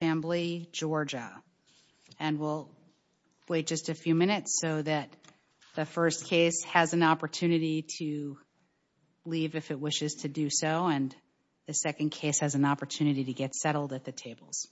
and we'll wait just a few minutes so that the first case has an opportunity to leave if it wishes to do so and the second case has an opportunity to get settled at the tables.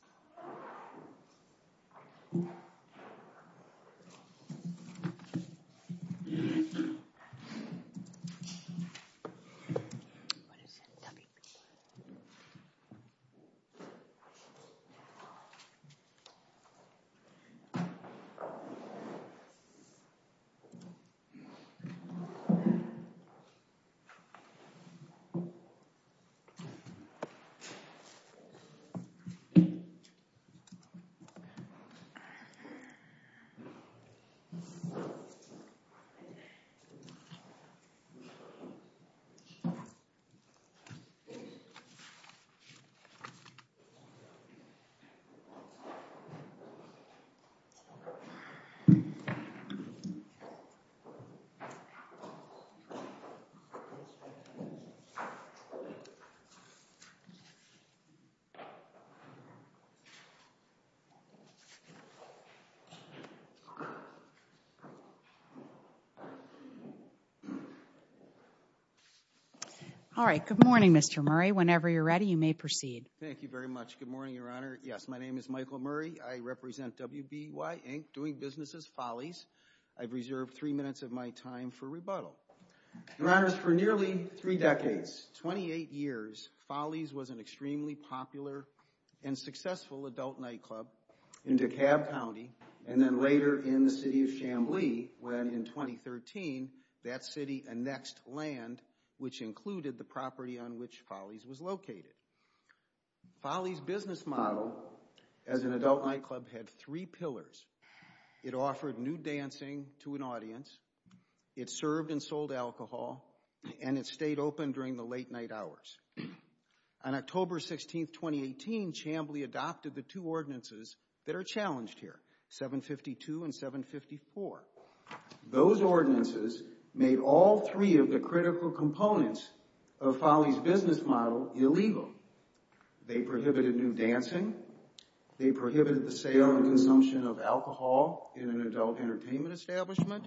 All right, good morning, Mr. Murray. Whenever you're ready, you may proceed. Thank you very much. Good morning, Your Honor. Yes, my name is Michael Murray. I represent WBY, Inc., doing businesses, Follies. I've reserved three minutes of my time for rebuttal. Your Honors, for nearly three decades, 28 years, Follies was an extremely popular and successful adult nightclub in DeKalb County and then later in the City of Chamblee when in 2013 that city annexed land which included the property on which Follies was located. Follies' business model as an adult nightclub had three pillars. It offered new dancing to an audience, it served and sold alcohol, and it stayed open during the late night hours. On October 16, 2018, Chamblee adopted the two ordinances that are challenged here, 752 and 754. Those ordinances made all three of the critical components of Follies' business model illegal. They prohibited new dancing, they prohibited the sale and consumption of alcohol in an adult entertainment establishment,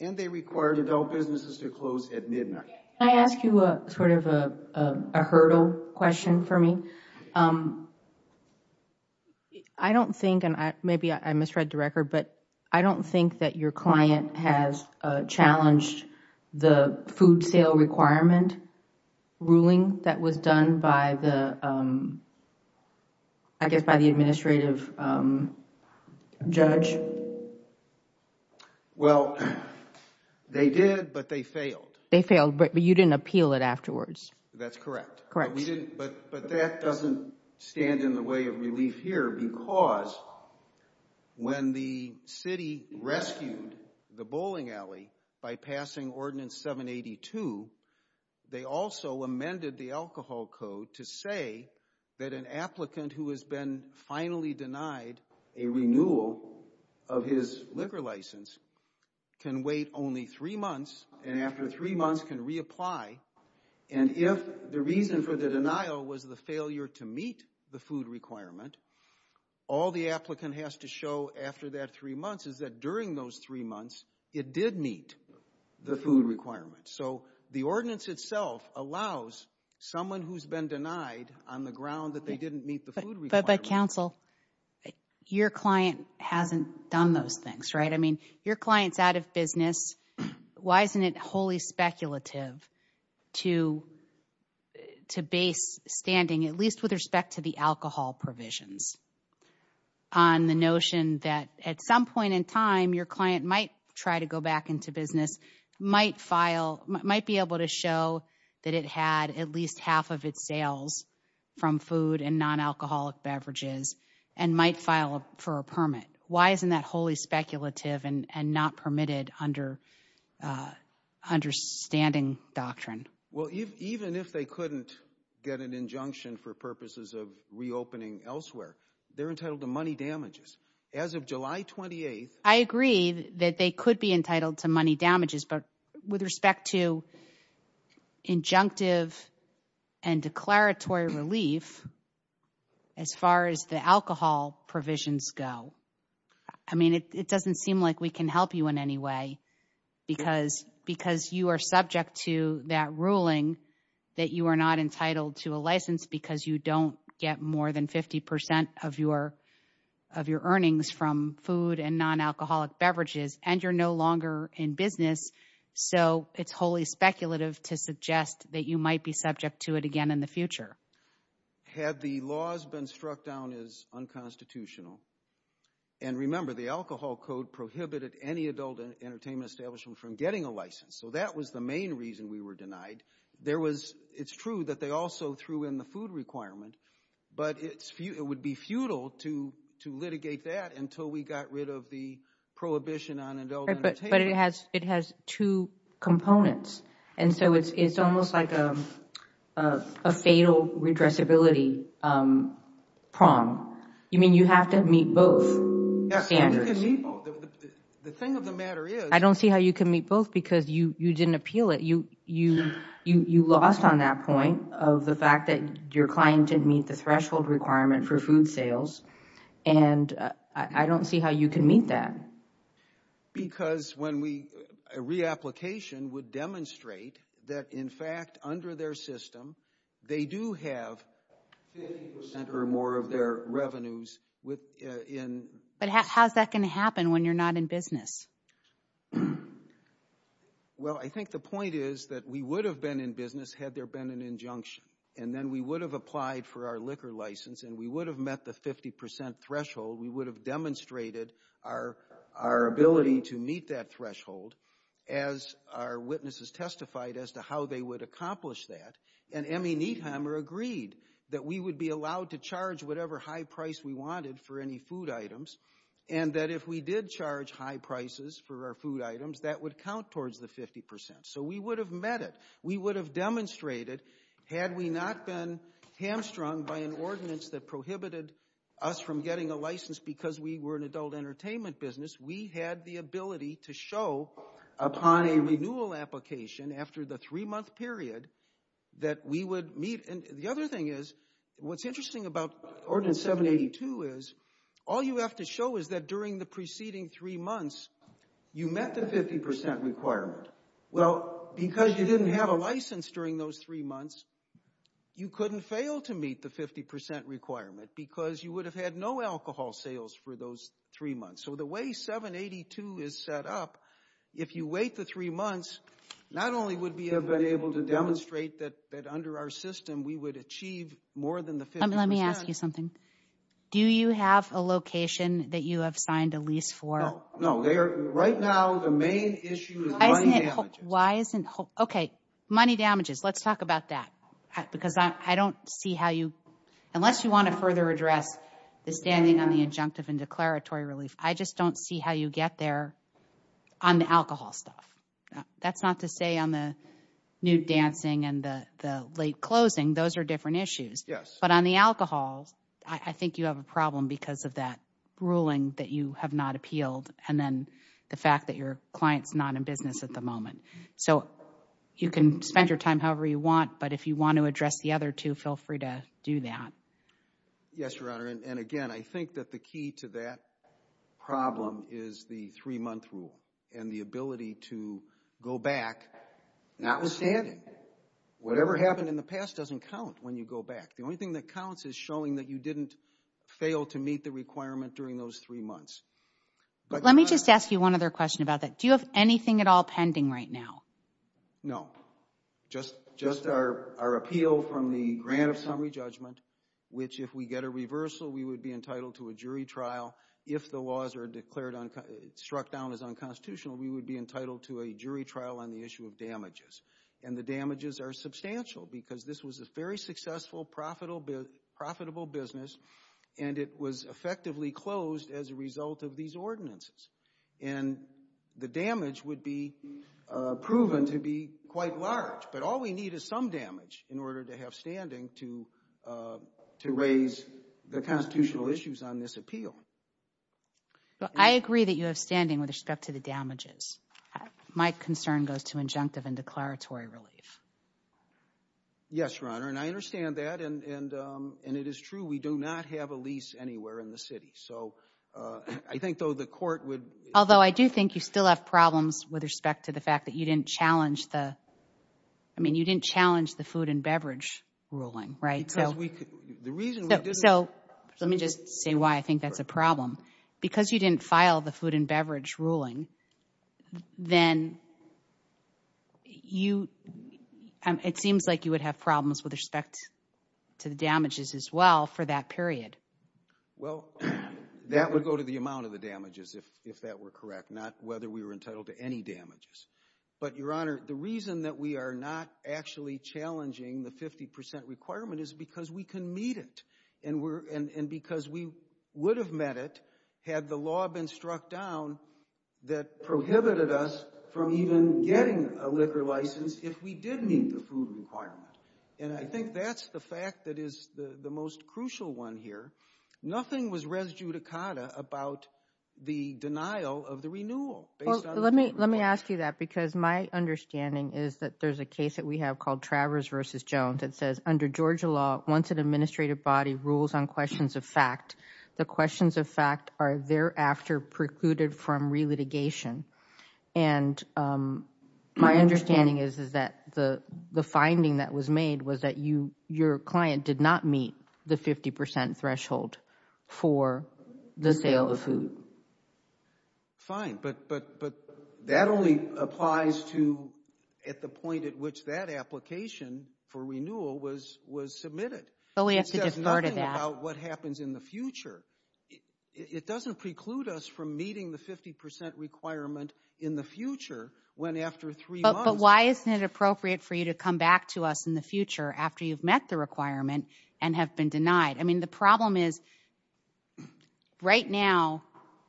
and they required adult businesses to close at midnight. Can I ask you sort of a hurdle question for me? I don't think, and maybe I misread the record, but I don't think that your client has challenged the food sale requirement ruling that was done by the, I guess by the administrative judge. Well, they did, but they failed. They failed, but you didn't appeal it afterwards. That's correct. Correct. But that doesn't stand in the way of relief here, because when the city rescued the bowling alley by passing Ordinance 782, they also amended the alcohol code to say that an applicant who has been finally denied a renewal of his liquor license can wait only three months, and after three months can reapply. And if the reason for the denial was the failure to meet the food requirement, all the applicant has to show after that three months is that during those three months, it did meet the food requirement. So the ordinance itself allows someone who's been denied on the ground that they didn't meet the food requirement. But counsel, your client hasn't done those things, right? I mean, your client's out of business. Why isn't it wholly speculative to base standing, at least with respect to the alcohol provisions, on the notion that at some point in time, your client might try to go back into business, might be able to show that it had at least half of its sales from food and non-alcoholic beverages, and might file for a permit? Why isn't that wholly speculative and not permitted under standing doctrine? Well, even if they couldn't get an injunction for purposes of reopening elsewhere, they're entitled to money damages. As of July 28th... I agree that they could be entitled to money damages, but with respect to injunctive and declaratory relief, as far as the alcohol provisions go, I mean, it doesn't seem like we can help you in any way, because you are subject to that ruling that you are not entitled to a license because you don't get more than 50% of your earnings from food and non-alcoholic beverages, and you're no longer in business. So it's wholly speculative to suggest that you might be subject to it again in the future. Had the laws been struck down as unconstitutional, and remember, the Alcohol Code prohibited any adult entertainment establishment from getting a license, so that was the main reason we were denied. It's true that they also threw in the food requirement, but it would be futile to litigate that until we got rid of the prohibition on adult entertainment. But it has two components, and so it's almost like a fatal redressability prong. You mean you have to meet both standards? The thing of the matter is... I don't see how you can meet both because you didn't appeal it. You lost on that point of the fact that your client didn't meet the threshold requirement for food sales, and I don't see how you can meet that. Why? Because a reapplication would demonstrate that, in fact, under their system, they do have 50% or more of their revenues in... But how's that going to happen when you're not in business? Well, I think the point is that we would have been in business had there been an injunction, and then we would have applied for our liquor license, and we would have met the 50% threshold. We would have demonstrated our ability to meet that threshold, as our witnesses testified as to how they would accomplish that. And Emmy Nietheimer agreed that we would be allowed to charge whatever high price we wanted for any food items, and that if we did charge high prices for our food items, that would count towards the 50%. So we would have met it. We would have demonstrated, had we not been hamstrung by an ordinance that prohibited us from getting a license because we were an adult entertainment business, we had the ability to show upon a renewal application after the three-month period that we would meet. And the other thing is, what's interesting about Ordinance 782 is, all you have to show is that during the preceding three months, you met the 50% requirement. Well, because you didn't have a license during those three months, you couldn't fail to meet the 50% requirement because you would have had no alcohol sales for those three months. So the way 782 is set up, if you wait the three months, not only would we have been able to demonstrate that under our system we would achieve more than the 50% Let me ask you something. Do you have a location that you have signed a lease for? No, right now the main issue is money damages. Okay, money damages, let's talk about that. Because I don't see how you, unless you want to further address the standing on the injunctive and declaratory relief, I just don't see how you get there on the alcohol stuff. That's not to say on the nude dancing and the late closing, those are different issues. Yes. But on the alcohol, I think you have a problem because of that ruling that you have not appealed and then the fact that your client's not in business at the moment. So you can spend your time however you want, but if you want to address the other two, feel free to do that. Yes, Your Honor, and again, I think that the key to that problem is the three-month rule and the ability to go back notwithstanding. Whatever happened in the past doesn't count when you go back. The only thing that counts is showing that you didn't fail to meet the requirement during those three months. Let me just ask you one other question about that. Do you have anything at all pending right now? No. Just our appeal from the grant of summary judgment, which if we get a reversal, we would be entitled to a jury trial. If the laws are struck down as unconstitutional, we would be entitled to a jury trial on the issue of damages. And the damages are substantial because this was a very successful, profitable business, and it was effectively closed as a result of these ordinances. And the damage would be proven to be quite large. But all we need is some damage in order to have standing to raise the constitutional issues on this appeal. I agree that you have standing with respect to the damages. My concern goes to injunctive and declaratory relief. Yes, Your Honor, and I understand that. And it is true we do not have a lease anywhere in the city. So I think, though, the court would— Although I do think you still have problems with respect to the fact that you didn't challenge the— I mean, you didn't challenge the food and beverage ruling, right? Because we—the reason we didn't— So let me just say why I think that's a problem. Because you didn't file the food and beverage ruling, then you— it seems like you would have problems with respect to the damages as well for that period. Well, that would go to the amount of the damages, if that were correct, not whether we were entitled to any damages. But, Your Honor, the reason that we are not actually challenging the 50 percent requirement is because we can meet it. And because we would have met it had the law been struck down that prohibited us from even getting a liquor license if we did meet the food requirement. And I think that's the fact that is the most crucial one here. Nothing was res judicata about the denial of the renewal based on— Well, let me ask you that because my understanding is that there's a case that we have called Travers v. Jones that says under Georgia law, once an administrative body rules on questions of fact, the questions of fact are thereafter precluded from re-litigation. And my understanding is that the finding that was made was that you— your client did not meet the 50 percent threshold for the sale of food. Fine, but that only applies to at the point at which that application for renewal was submitted. So we have to defer to that. It says nothing about what happens in the future. It doesn't preclude us from meeting the 50 percent requirement in the future when after three months— But why isn't it appropriate for you to come back to us in the future after you've met the requirement and have been denied? I mean, the problem is right now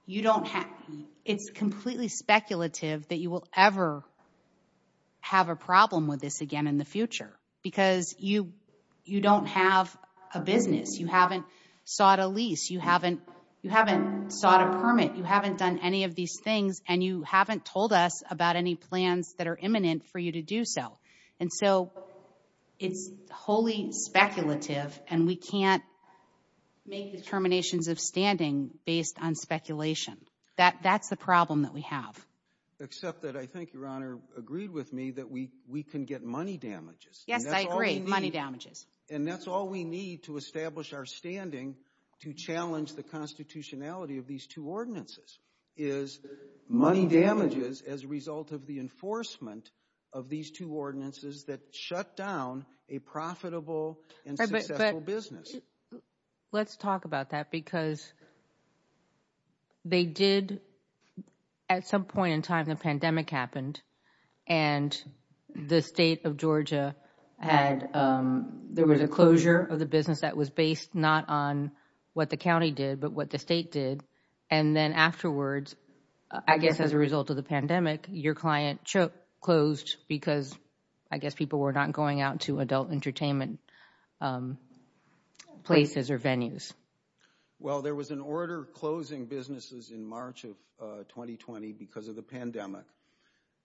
you don't have— It's completely speculative that you will ever have a problem with this again in the future because you don't have a business. You haven't sought a lease. You haven't sought a permit. You haven't done any of these things, and you haven't told us about any plans that are imminent for you to do so. And so it's wholly speculative, and we can't make determinations of standing based on speculation. That's the problem that we have. Except that I think Your Honor agreed with me that we can get money damages. Yes, I agree. Money damages. And that's all we need to establish our standing to challenge the constitutionality of these two ordinances is money damages as a result of the enforcement of these two ordinances that shut down a profitable and successful business. Let's talk about that because they did—at some point in time the pandemic happened, and the state of Georgia had—there was a closure of the business that was based not on what the county did but what the state did. And then afterwards, I guess as a result of the pandemic, your client closed because I guess people were not going out to adult entertainment places or venues. Well, there was an order closing businesses in March of 2020 because of the pandemic.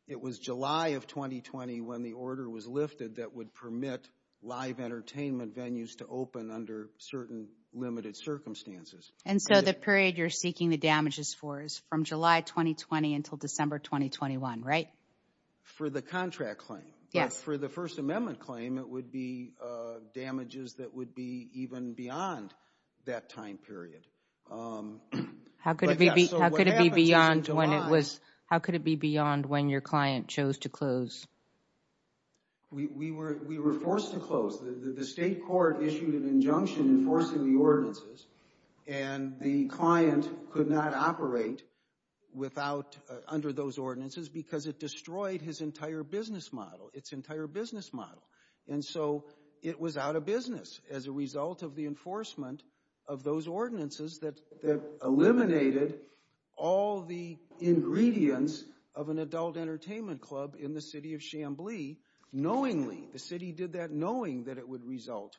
It was July of 2020 when the order was lifted that would permit live entertainment venues to open under certain limited circumstances. And so the period you're seeking the damages for is from July 2020 until December 2021, right? For the contract claim. Yes. For the First Amendment claim, it would be damages that would be even beyond that time period. How could it be beyond when it was—how could it be beyond when your client chose to close? We were forced to close. The state court issued an injunction enforcing the ordinances, and the client could not operate under those ordinances because it destroyed his entire business model, its entire business model. And so it was out of business as a result of the enforcement of those ordinances that eliminated all the ingredients of an adult entertainment club in the city of Chambly knowingly. The city did that knowing that it would result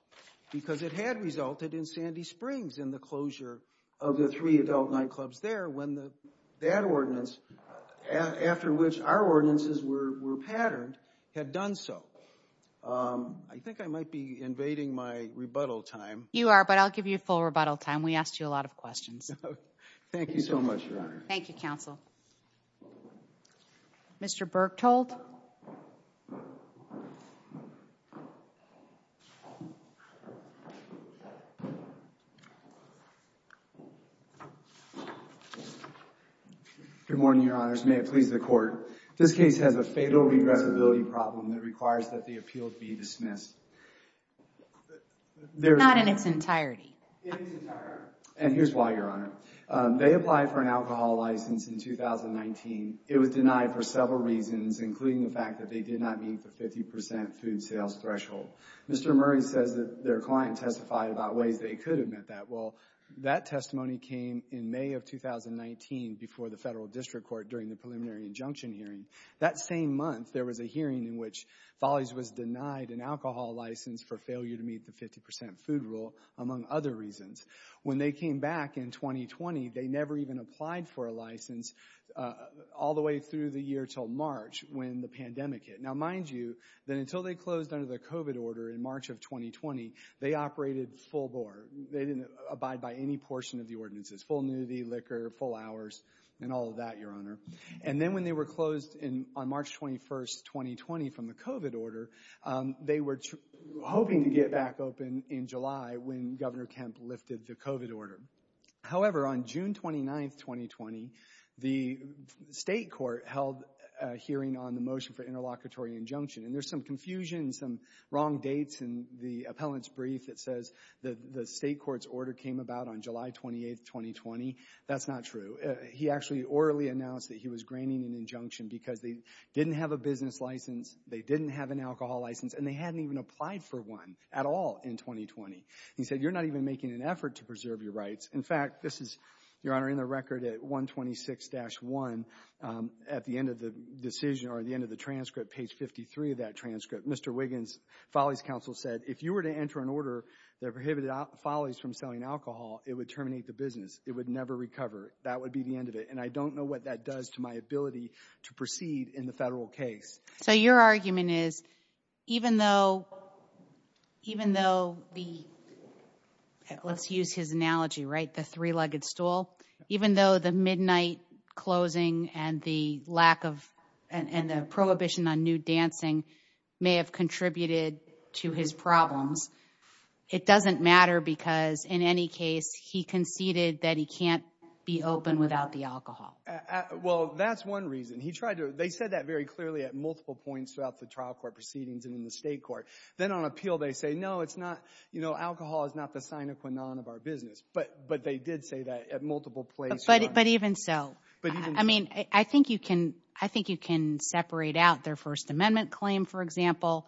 because it had resulted in Sandy Springs and the closure of the three adult nightclubs there when that ordinance, after which our ordinances were patterned, had done so. I think I might be invading my rebuttal time. You are, but I'll give you full rebuttal time. We asked you a lot of questions. Thank you so much, Your Honor. Thank you, counsel. Mr. Berktold. Good morning, Your Honors. May it please the Court. This case has a fatal regressibility problem that requires that the appeal be dismissed. Not in its entirety. In its entirety. And here's why, Your Honor. They applied for an alcohol license in 2019. It was denied for several reasons, including the fact that they did not meet the 50% food sales threshold. Mr. Murray says that their client testified about ways they could have met that. Well, that testimony came in May of 2019 before the Federal District Court during the preliminary injunction hearing. That same month, there was a hearing in which Follies was denied an alcohol license for failure to meet the 50% food rule, among other reasons. When they came back in 2020, they never even applied for a license all the way through the year until March when the pandemic hit. Now, mind you, that until they closed under the COVID order in March of 2020, they operated full bore. They didn't abide by any portion of the ordinances. Full nudity, liquor, full hours, and all of that, Your Honor. And then when they were closed on March 21st, 2020 from the COVID order, they were hoping to get back open in July when Governor Kemp lifted the COVID order. However, on June 29th, 2020, the state court held a hearing on the motion for interlocutory injunction. And there's some confusion, some wrong dates in the appellant's brief that says the state court's order came about on July 28th, 2020. That's not true. He actually orally announced that he was graining an injunction because they didn't have a business license, they didn't have an alcohol license, and they hadn't even applied for one at all in 2020. He said, you're not even making an effort to preserve your rights. In fact, this is, Your Honor, in the record at 126-1, at the end of the decision or the end of the transcript, page 53 of that transcript, Mr. Wiggins, Follies counsel said, if you were to enter an order that prohibited Follies from selling alcohol, it would terminate the business. It would never recover. That would be the end of it. And I don't know what that does to my ability to proceed in the federal case. So your argument is, even though, even though the, let's use his analogy, right, the three-legged stool, even though the midnight closing and the lack of, and the prohibition on nude dancing may have contributed to his problems, it doesn't matter because, in any case, he conceded that he can't be open without the alcohol. Well, that's one reason. He tried to, they said that very clearly at multiple points throughout the trial court proceedings and in the state court. Then on appeal they say, no, it's not, you know, alcohol is not the sine qua non of our business. But they did say that at multiple places. But even so, I mean, I think you can, I think you can separate out their First Amendment claim, for example,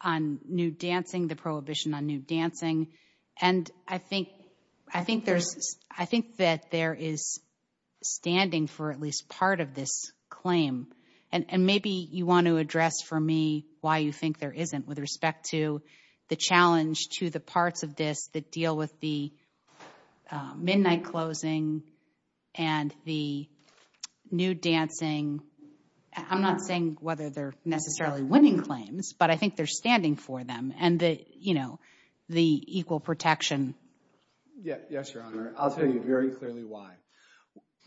on nude dancing, the prohibition on nude dancing. And I think, I think there's, I think that there is standing for at least part of this claim. And maybe you want to address for me why you think there isn't with respect to the challenge to the parts of this that deal with the midnight closing and the nude dancing. I'm not saying whether they're necessarily winning claims. But I think there's standing for them and the, you know, the equal protection. Yes, Your Honor. I'll tell you very clearly why.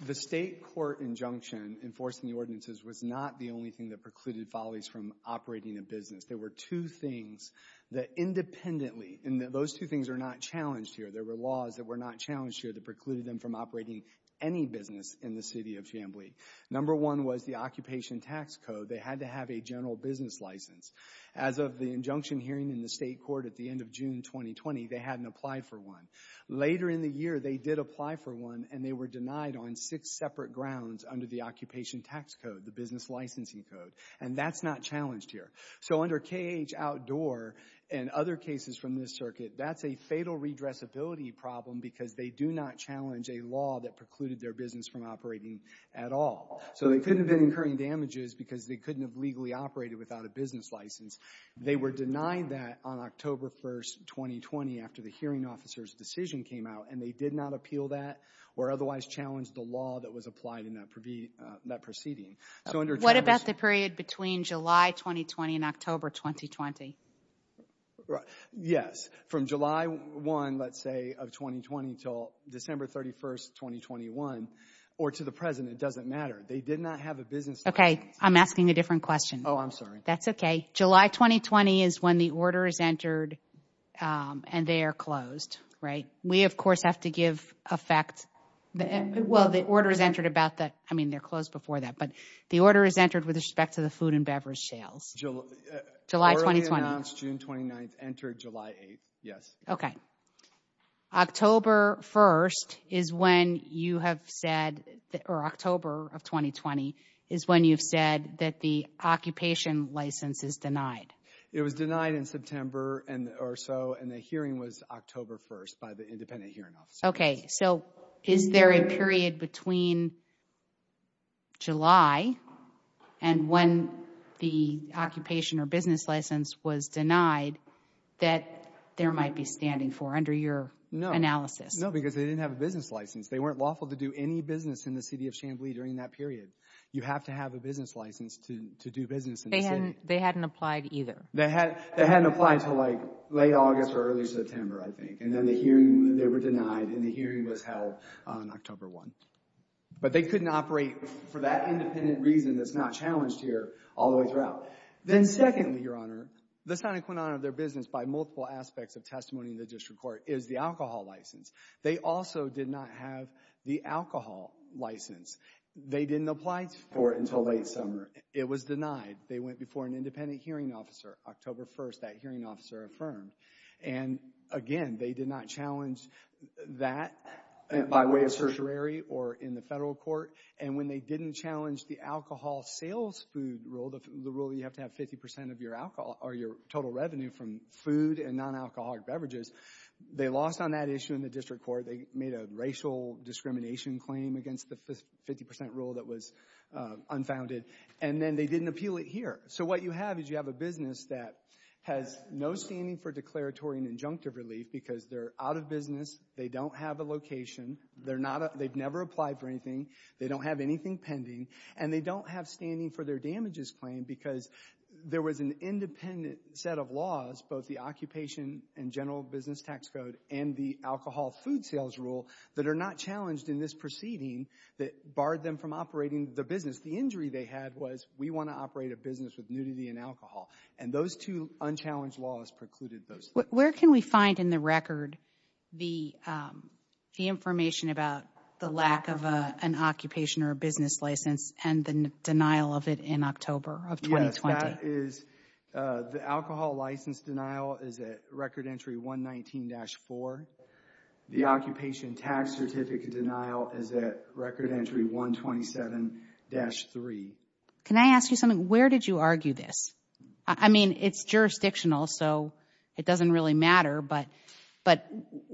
The state court injunction enforcing the ordinances was not the only thing that precluded Follies from operating a business. There were two things that independently, and those two things are not challenged here. There were laws that were not challenged here that precluded them from operating any business in the city of Chamblee. Number one was the Occupation Tax Code. They had to have a general business license. As of the injunction hearing in the state court at the end of June 2020, they hadn't applied for one. Later in the year, they did apply for one, and they were denied on six separate grounds under the Occupation Tax Code, the business licensing code. And that's not challenged here. So under KAH Outdoor and other cases from this circuit, that's a fatal redressability problem because they do not challenge a law that precluded their business from operating at all. So they couldn't have been incurring damages because they couldn't have legally operated without a business license. They were denied that on October 1, 2020, after the hearing officer's decision came out, and they did not appeal that or otherwise challenge the law that was applied in that proceeding. What about the period between July 2020 and October 2020? Yes. From July 1, let's say, of 2020 until December 31, 2021, or to the present, it doesn't matter. They did not have a business license. Okay. I'm asking a different question. Oh, I'm sorry. That's okay. July 2020 is when the order is entered and they are closed, right? We, of course, have to give effect. Well, the order is entered about that. I mean, they're closed before that. But the order is entered with respect to the food and beverage sales. July 2020. Orderly announced June 29, entered July 8. Yes. Okay. October 1 is when you have said, or October of 2020, is when you've said that the occupation license is denied. It was denied in September or so, and the hearing was October 1 by the independent hearing officer. Okay. So, is there a period between July and when the occupation or business license was denied that there might be standing for under your analysis? No, because they didn't have a business license. They weren't lawful to do any business in the city of Chamblee during that period. You have to have a business license to do business in the city. They hadn't applied either. They hadn't applied until, like, late August or early September, I think. And then the hearing, they were denied, and the hearing was held on October 1. But they couldn't operate for that independent reason that's not challenged here all the way throughout. Then, secondly, Your Honor, the sine qua non of their business by multiple aspects of testimony in the district court is the alcohol license. They also did not have the alcohol license. They didn't apply for it until late summer. It was denied. They went before an independent hearing officer. October 1, that hearing officer affirmed. And, again, they did not challenge that by way of certiorari or in the federal court. And when they didn't challenge the alcohol sales food rule, the rule that you have to have 50 percent of your alcohol or your total revenue from food and non-alcoholic beverages, they lost on that issue in the district court. They made a racial discrimination claim against the 50 percent rule that was unfounded. And then they didn't appeal it here. So what you have is you have a business that has no standing for declaratory and injunctive relief because they're out of business, they don't have a location, they've never applied for anything, they don't have anything pending, and they don't have standing for their damages claim because there was an independent set of laws, both the occupation and general business tax code and the alcohol food sales rule that are not challenged in this proceeding that barred them from operating the business. Because the injury they had was, we want to operate a business with nudity and alcohol. And those two unchallenged laws precluded those things. Where can we find in the record the information about the lack of an occupation or a business license and the denial of it in October of 2020? Yes, that is the alcohol license denial is at Record Entry 119-4. The occupation tax certificate denial is at Record Entry 127-3. Can I ask you something? Where did you argue this? I mean, it's jurisdictional, so it doesn't really matter, but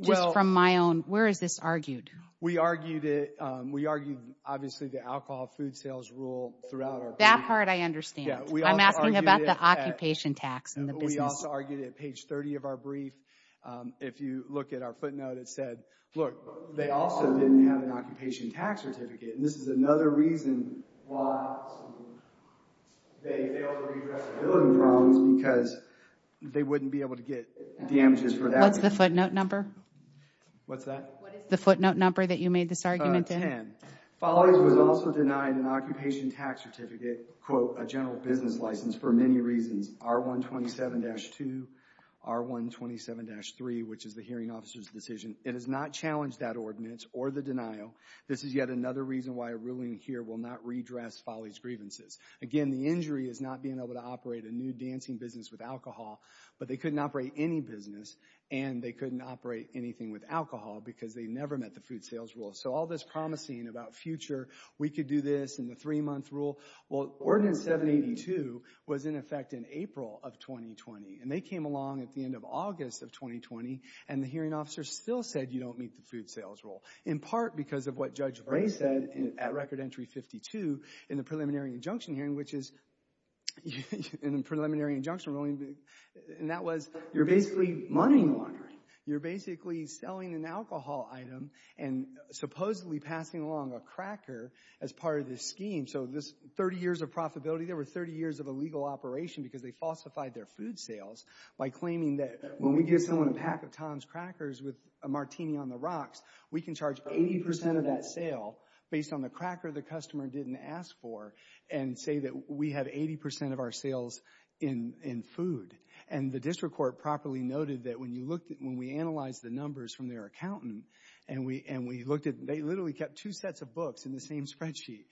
just from my own, where is this argued? We argued it, we argued obviously the alcohol food sales rule throughout our brief. That part I understand. I'm asking about the occupation tax in the business. We also argued it at page 30 of our brief. If you look at our footnote, it said, look, they also didn't have an occupation tax certificate. And this is another reason why they failed to redress the building problems, because they wouldn't be able to get damages for that. What's the footnote number? What's that? The footnote number that you made this argument in. Again, Follies was also denied an occupation tax certificate, quote, a general business license for many reasons, R-127-2, R-127-3, which is the hearing officer's decision. It has not challenged that ordinance or the denial. This is yet another reason why a ruling here will not redress Follies' grievances. Again, the injury is not being able to operate a new dancing business with alcohol, but they couldn't operate any business and they couldn't operate anything with alcohol because they never met the food sales rule. So all this promising about future, we could do this, and the three-month rule. Well, Ordinance 782 was in effect in April of 2020, and they came along at the end of August of 2020, and the hearing officer still said you don't meet the food sales rule, in part because of what Judge Bray said at Record Entry 52 in the preliminary injunction hearing, which is in the preliminary injunction ruling, and that was you're basically money laundering. You're basically selling an alcohol item and supposedly passing along a cracker as part of the scheme. So this 30 years of profitability, there were 30 years of illegal operation because they falsified their food sales by claiming that when we give someone a pack of Tom's Crackers with a martini on the rocks, we can charge 80% of that sale based on the cracker the customer didn't ask for and say that we have 80% of our sales in food. And the district court properly noted that when we analyzed the numbers from their accountant, and they literally kept two sets of books in the same spreadsheet,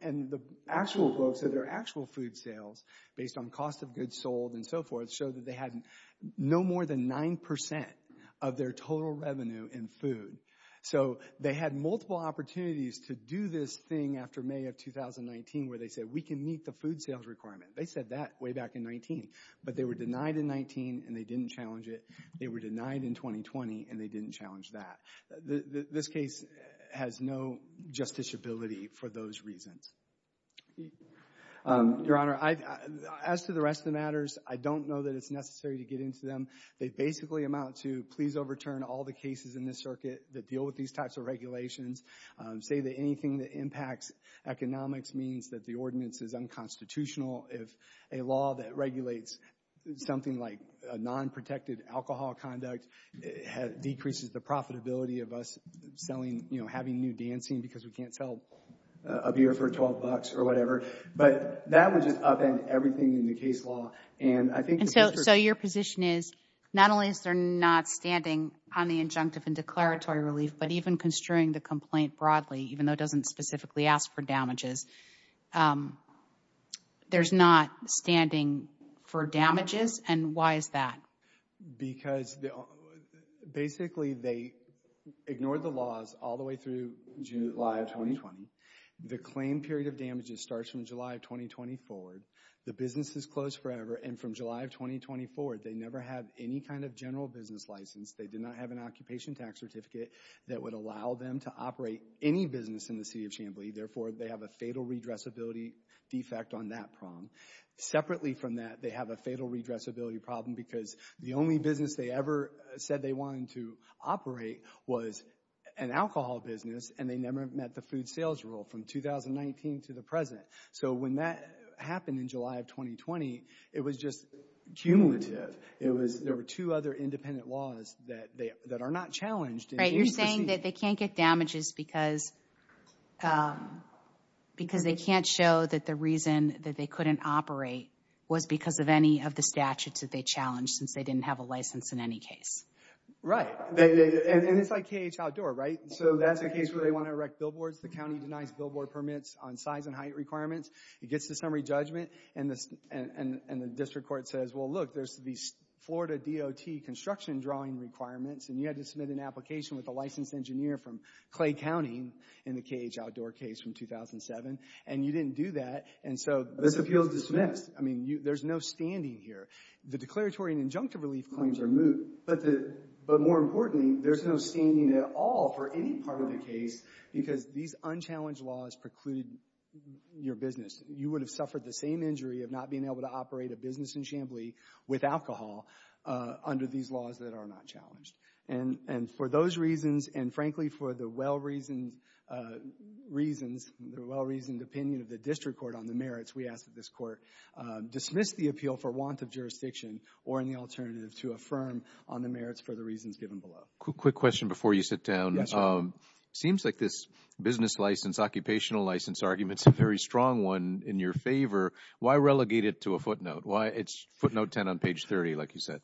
and the actual books of their actual food sales based on cost of goods sold and so forth showed that they had no more than 9% of their total revenue in food. So they had multiple opportunities to do this thing after May of 2019 where they said we can meet the food sales requirement. They said that way back in 19. But they were denied in 19, and they didn't challenge it. They were denied in 2020, and they didn't challenge that. This case has no justiciability for those reasons. Your Honor, as to the rest of the matters, I don't know that it's necessary to get into them. They basically amount to please overturn all the cases in this circuit that deal with these types of regulations. Say that anything that impacts economics means that the ordinance is unconstitutional. If a law that regulates something like a non-protected alcohol conduct decreases the profitability of us selling, you know, having new dancing because we can't sell a beer for $12 or whatever. But that would just upend everything in the case law. And I think the— And so your position is not only is there not standing on the injunctive and declaratory relief, but even construing the complaint broadly, even though it doesn't specifically ask for damages. There's not standing for damages, and why is that? Because basically they ignored the laws all the way through July of 2020. The claim period of damages starts from July of 2020 forward. The business is closed forever. And from July of 2024, they never have any kind of general business license. They did not have an occupation tax certificate that would allow them to operate any business in the city of Chamblee. Therefore, they have a fatal redressability defect on that prong. Separately from that, they have a fatal redressability problem because the only business they ever said they wanted to operate was an alcohol business, and they never met the food sales rule from 2019 to the present. So when that happened in July of 2020, it was just cumulative. There were two other independent laws that are not challenged. You're saying that they can't get damages because they can't show that the reason that they couldn't operate was because of any of the statutes that they challenged, since they didn't have a license in any case. Right. And it's like KH outdoor, right? So that's a case where they want to erect billboards. The county denies billboard permits on size and height requirements. It gets to summary judgment, and the district court says, well, look, there's these Florida DOT construction drawing requirements, and you had to submit an application with a licensed engineer from Clay County in the KH outdoor case from 2007, and you didn't do that, and so this appeal is dismissed. I mean, there's no standing here. The declaratory and injunctive relief claims are moot, but more importantly, there's no standing at all for any part of the case because these unchallenged laws preclude your business. You would have suffered the same injury of not being able to operate a business in Chamblee with alcohol under these laws that are not challenged, and for those reasons, and frankly for the well-reasoned reasons, the well-reasoned opinion of the district court on the merits, we ask that this court dismiss the appeal for want of jurisdiction or any alternative to affirm on the merits for the reasons given below. Quick question before you sit down. It seems like this business license, occupational license argument is a very strong one in your favor. Why relegate it to a footnote? It's footnote 10 on page 30, like you said.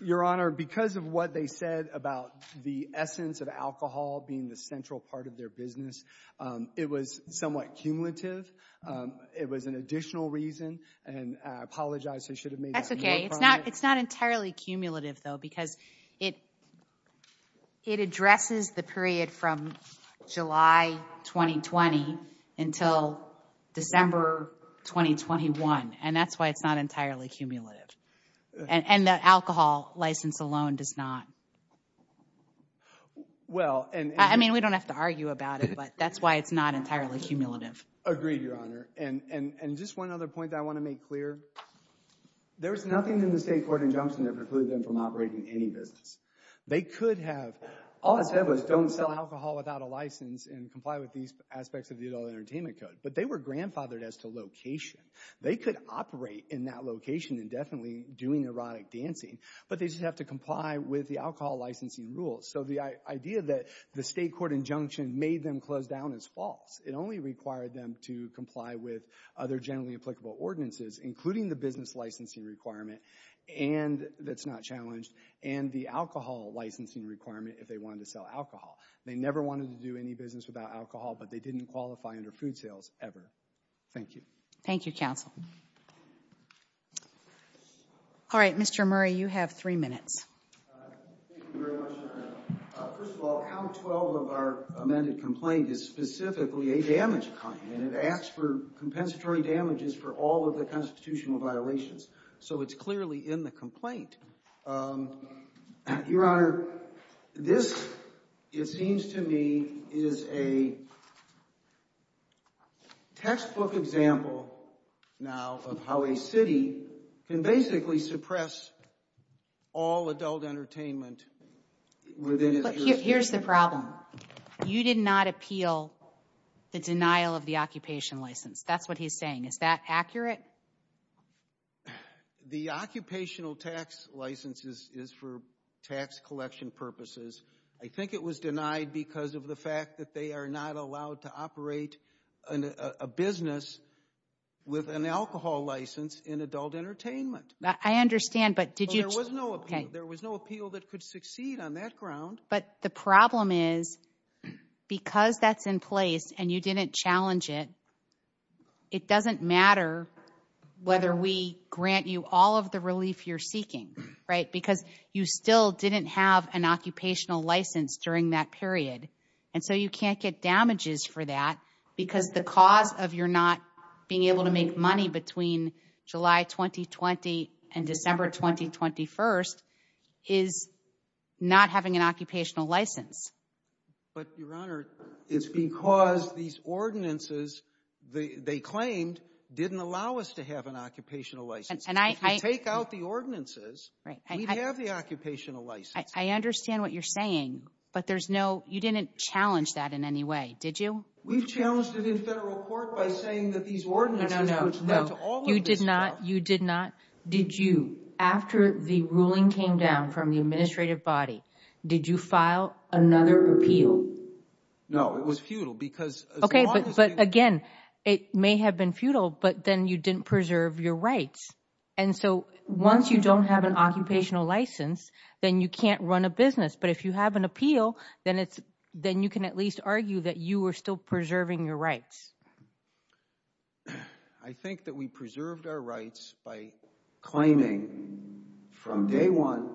Your Honor, because of what they said about the essence of alcohol being the central part of their business, it was somewhat cumulative. It was an additional reason, and I apologize. I should have made that more prominent. That's okay. It's not entirely cumulative, though, because it addresses the period from July 2020 until December 2021, and that's why it's not entirely cumulative, and the alcohol license alone does not. I mean, we don't have to argue about it, but that's why it's not entirely cumulative. Agreed, Your Honor, and just one other point that I want to make clear. There is nothing in the state court injunction that precludes them from operating any business. They could have—all it said was don't sell alcohol without a license and comply with these aspects of the Adult Entertainment Code, but they were grandfathered as to location. They could operate in that location indefinitely doing erotic dancing, but they just have to comply with the alcohol licensing rules, so the idea that the state court injunction made them close down is false. It only required them to comply with other generally applicable ordinances, including the business licensing requirement that's not challenged and the alcohol licensing requirement if they wanted to sell alcohol. They never wanted to do any business without alcohol, but they didn't qualify under food sales ever. Thank you. Thank you, counsel. All right, Mr. Murray, you have three minutes. Thank you very much, Your Honor. First of all, count 12 of our amended complaint is specifically a damage claim, and it asks for compensatory damages for all of the constitutional violations, so it's clearly in the complaint. Your Honor, this, it seems to me, is a textbook example now of how a city can basically suppress all adult entertainment within its jurisdiction. But here's the problem. You did not appeal the denial of the occupation license. That's what he's saying. Is that accurate? The occupational tax license is for tax collection purposes. I think it was denied because of the fact that they are not allowed to operate a business with an alcohol license in adult entertainment. I understand, but did you? There was no appeal. There was no appeal that could succeed on that ground. But the problem is because that's in place and you didn't challenge it, it doesn't matter whether we grant you all of the relief you're seeking, right, because you still didn't have an occupational license during that period, and so you can't get damages for that because the cause of your not being able to make money between July 2020 and December 2021 is not having an occupational license. But, Your Honor, it's because these ordinances, they claimed, didn't allow us to have an occupational license. If you take out the ordinances, we'd have the occupational license. I understand what you're saying, but there's no, you didn't challenge that in any way, did you? We've challenged it in federal court by saying that these ordinances, which led to all of this stuff. No, no, no, you did not, you did not. Did you, after the ruling came down from the administrative body, did you file another appeal? No, it was futile because as long as they— Okay, but again, it may have been futile, but then you didn't preserve your rights. And so once you don't have an occupational license, then you can't run a business. But if you have an appeal, then you can at least argue that you are still preserving your rights. I think that we preserved our rights by claiming from day one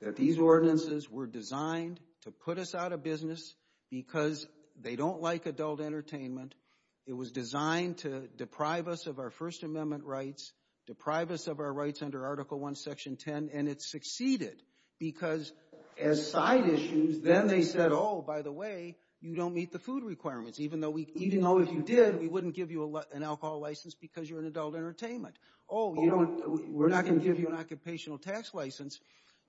that these ordinances were designed to put us out of business because they don't like adult entertainment. It was designed to deprive us of our First Amendment rights, deprive us of our rights under Article I, Section 10, and it succeeded because as side issues, then they said, oh, by the way, you don't meet the food requirements. Even though if you did, we wouldn't give you an alcohol license because you're in adult entertainment. Oh, we're not going to give you an occupational tax license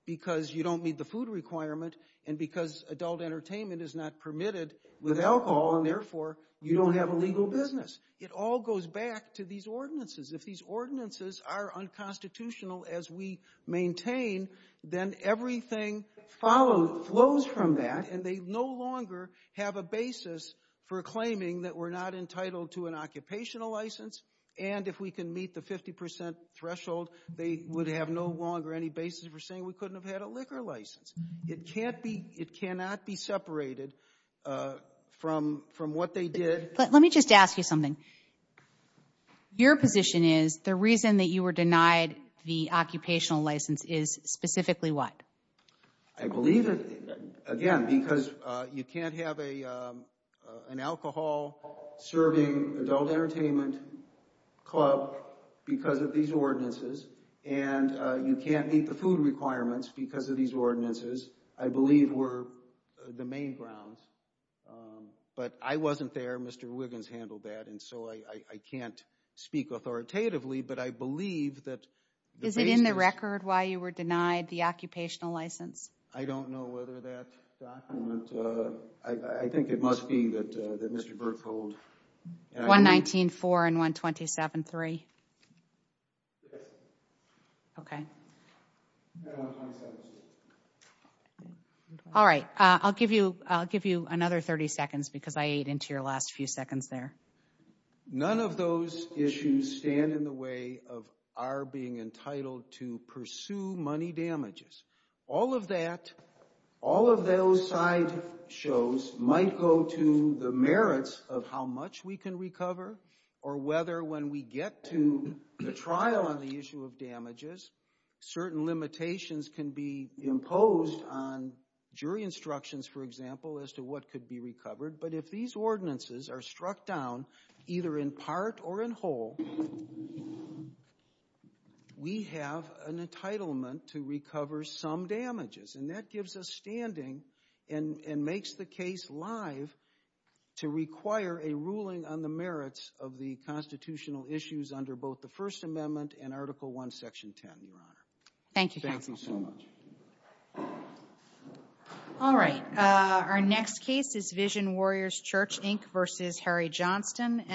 because you don't meet the food requirement and because adult entertainment is not permitted with alcohol, and therefore you don't have a legal business. It all goes back to these ordinances. If these ordinances are unconstitutional as we maintain, then everything flows from that and they no longer have a basis for claiming that we're not entitled to an occupational license and if we can meet the 50% threshold, they would have no longer any basis for saying we couldn't have had a liquor license. It cannot be separated from what they did. Let me just ask you something. Your position is the reason that you were denied the occupational license is specifically what? I believe, again, because you can't have an alcohol-serving adult entertainment club because of these ordinances, and you can't meet the food requirements because of these ordinances, I believe were the main grounds. But I wasn't there. Mr. Wiggins handled that, and so I can't speak authoritatively, but I believe that the basis— Is it in the record why you were denied the occupational license? I don't know whether that document— I think it must be that Mr. Berthold— 119.4 and 127.3? Yes. Okay. And 127.6. All right. I'll give you another 30 seconds because I ate into your last few seconds there. None of those issues stand in the way of our being entitled to pursue money damages. All of that, all of those sideshows might go to the merits of how much we can recover or whether when we get to the trial on the issue of damages, certain limitations can be imposed on jury instructions, for example, as to what could be recovered. But if these ordinances are struck down, either in part or in whole, we have an entitlement to recover some damages, and that gives us standing and makes the case live to require a ruling on the merits of the constitutional issues under both the First Amendment and Article I, Section 10, Your Honor. Thank you, counsel. Thank you so much. All right. Our next case is Vision Warriors Church, Inc. v. Harry Johnston.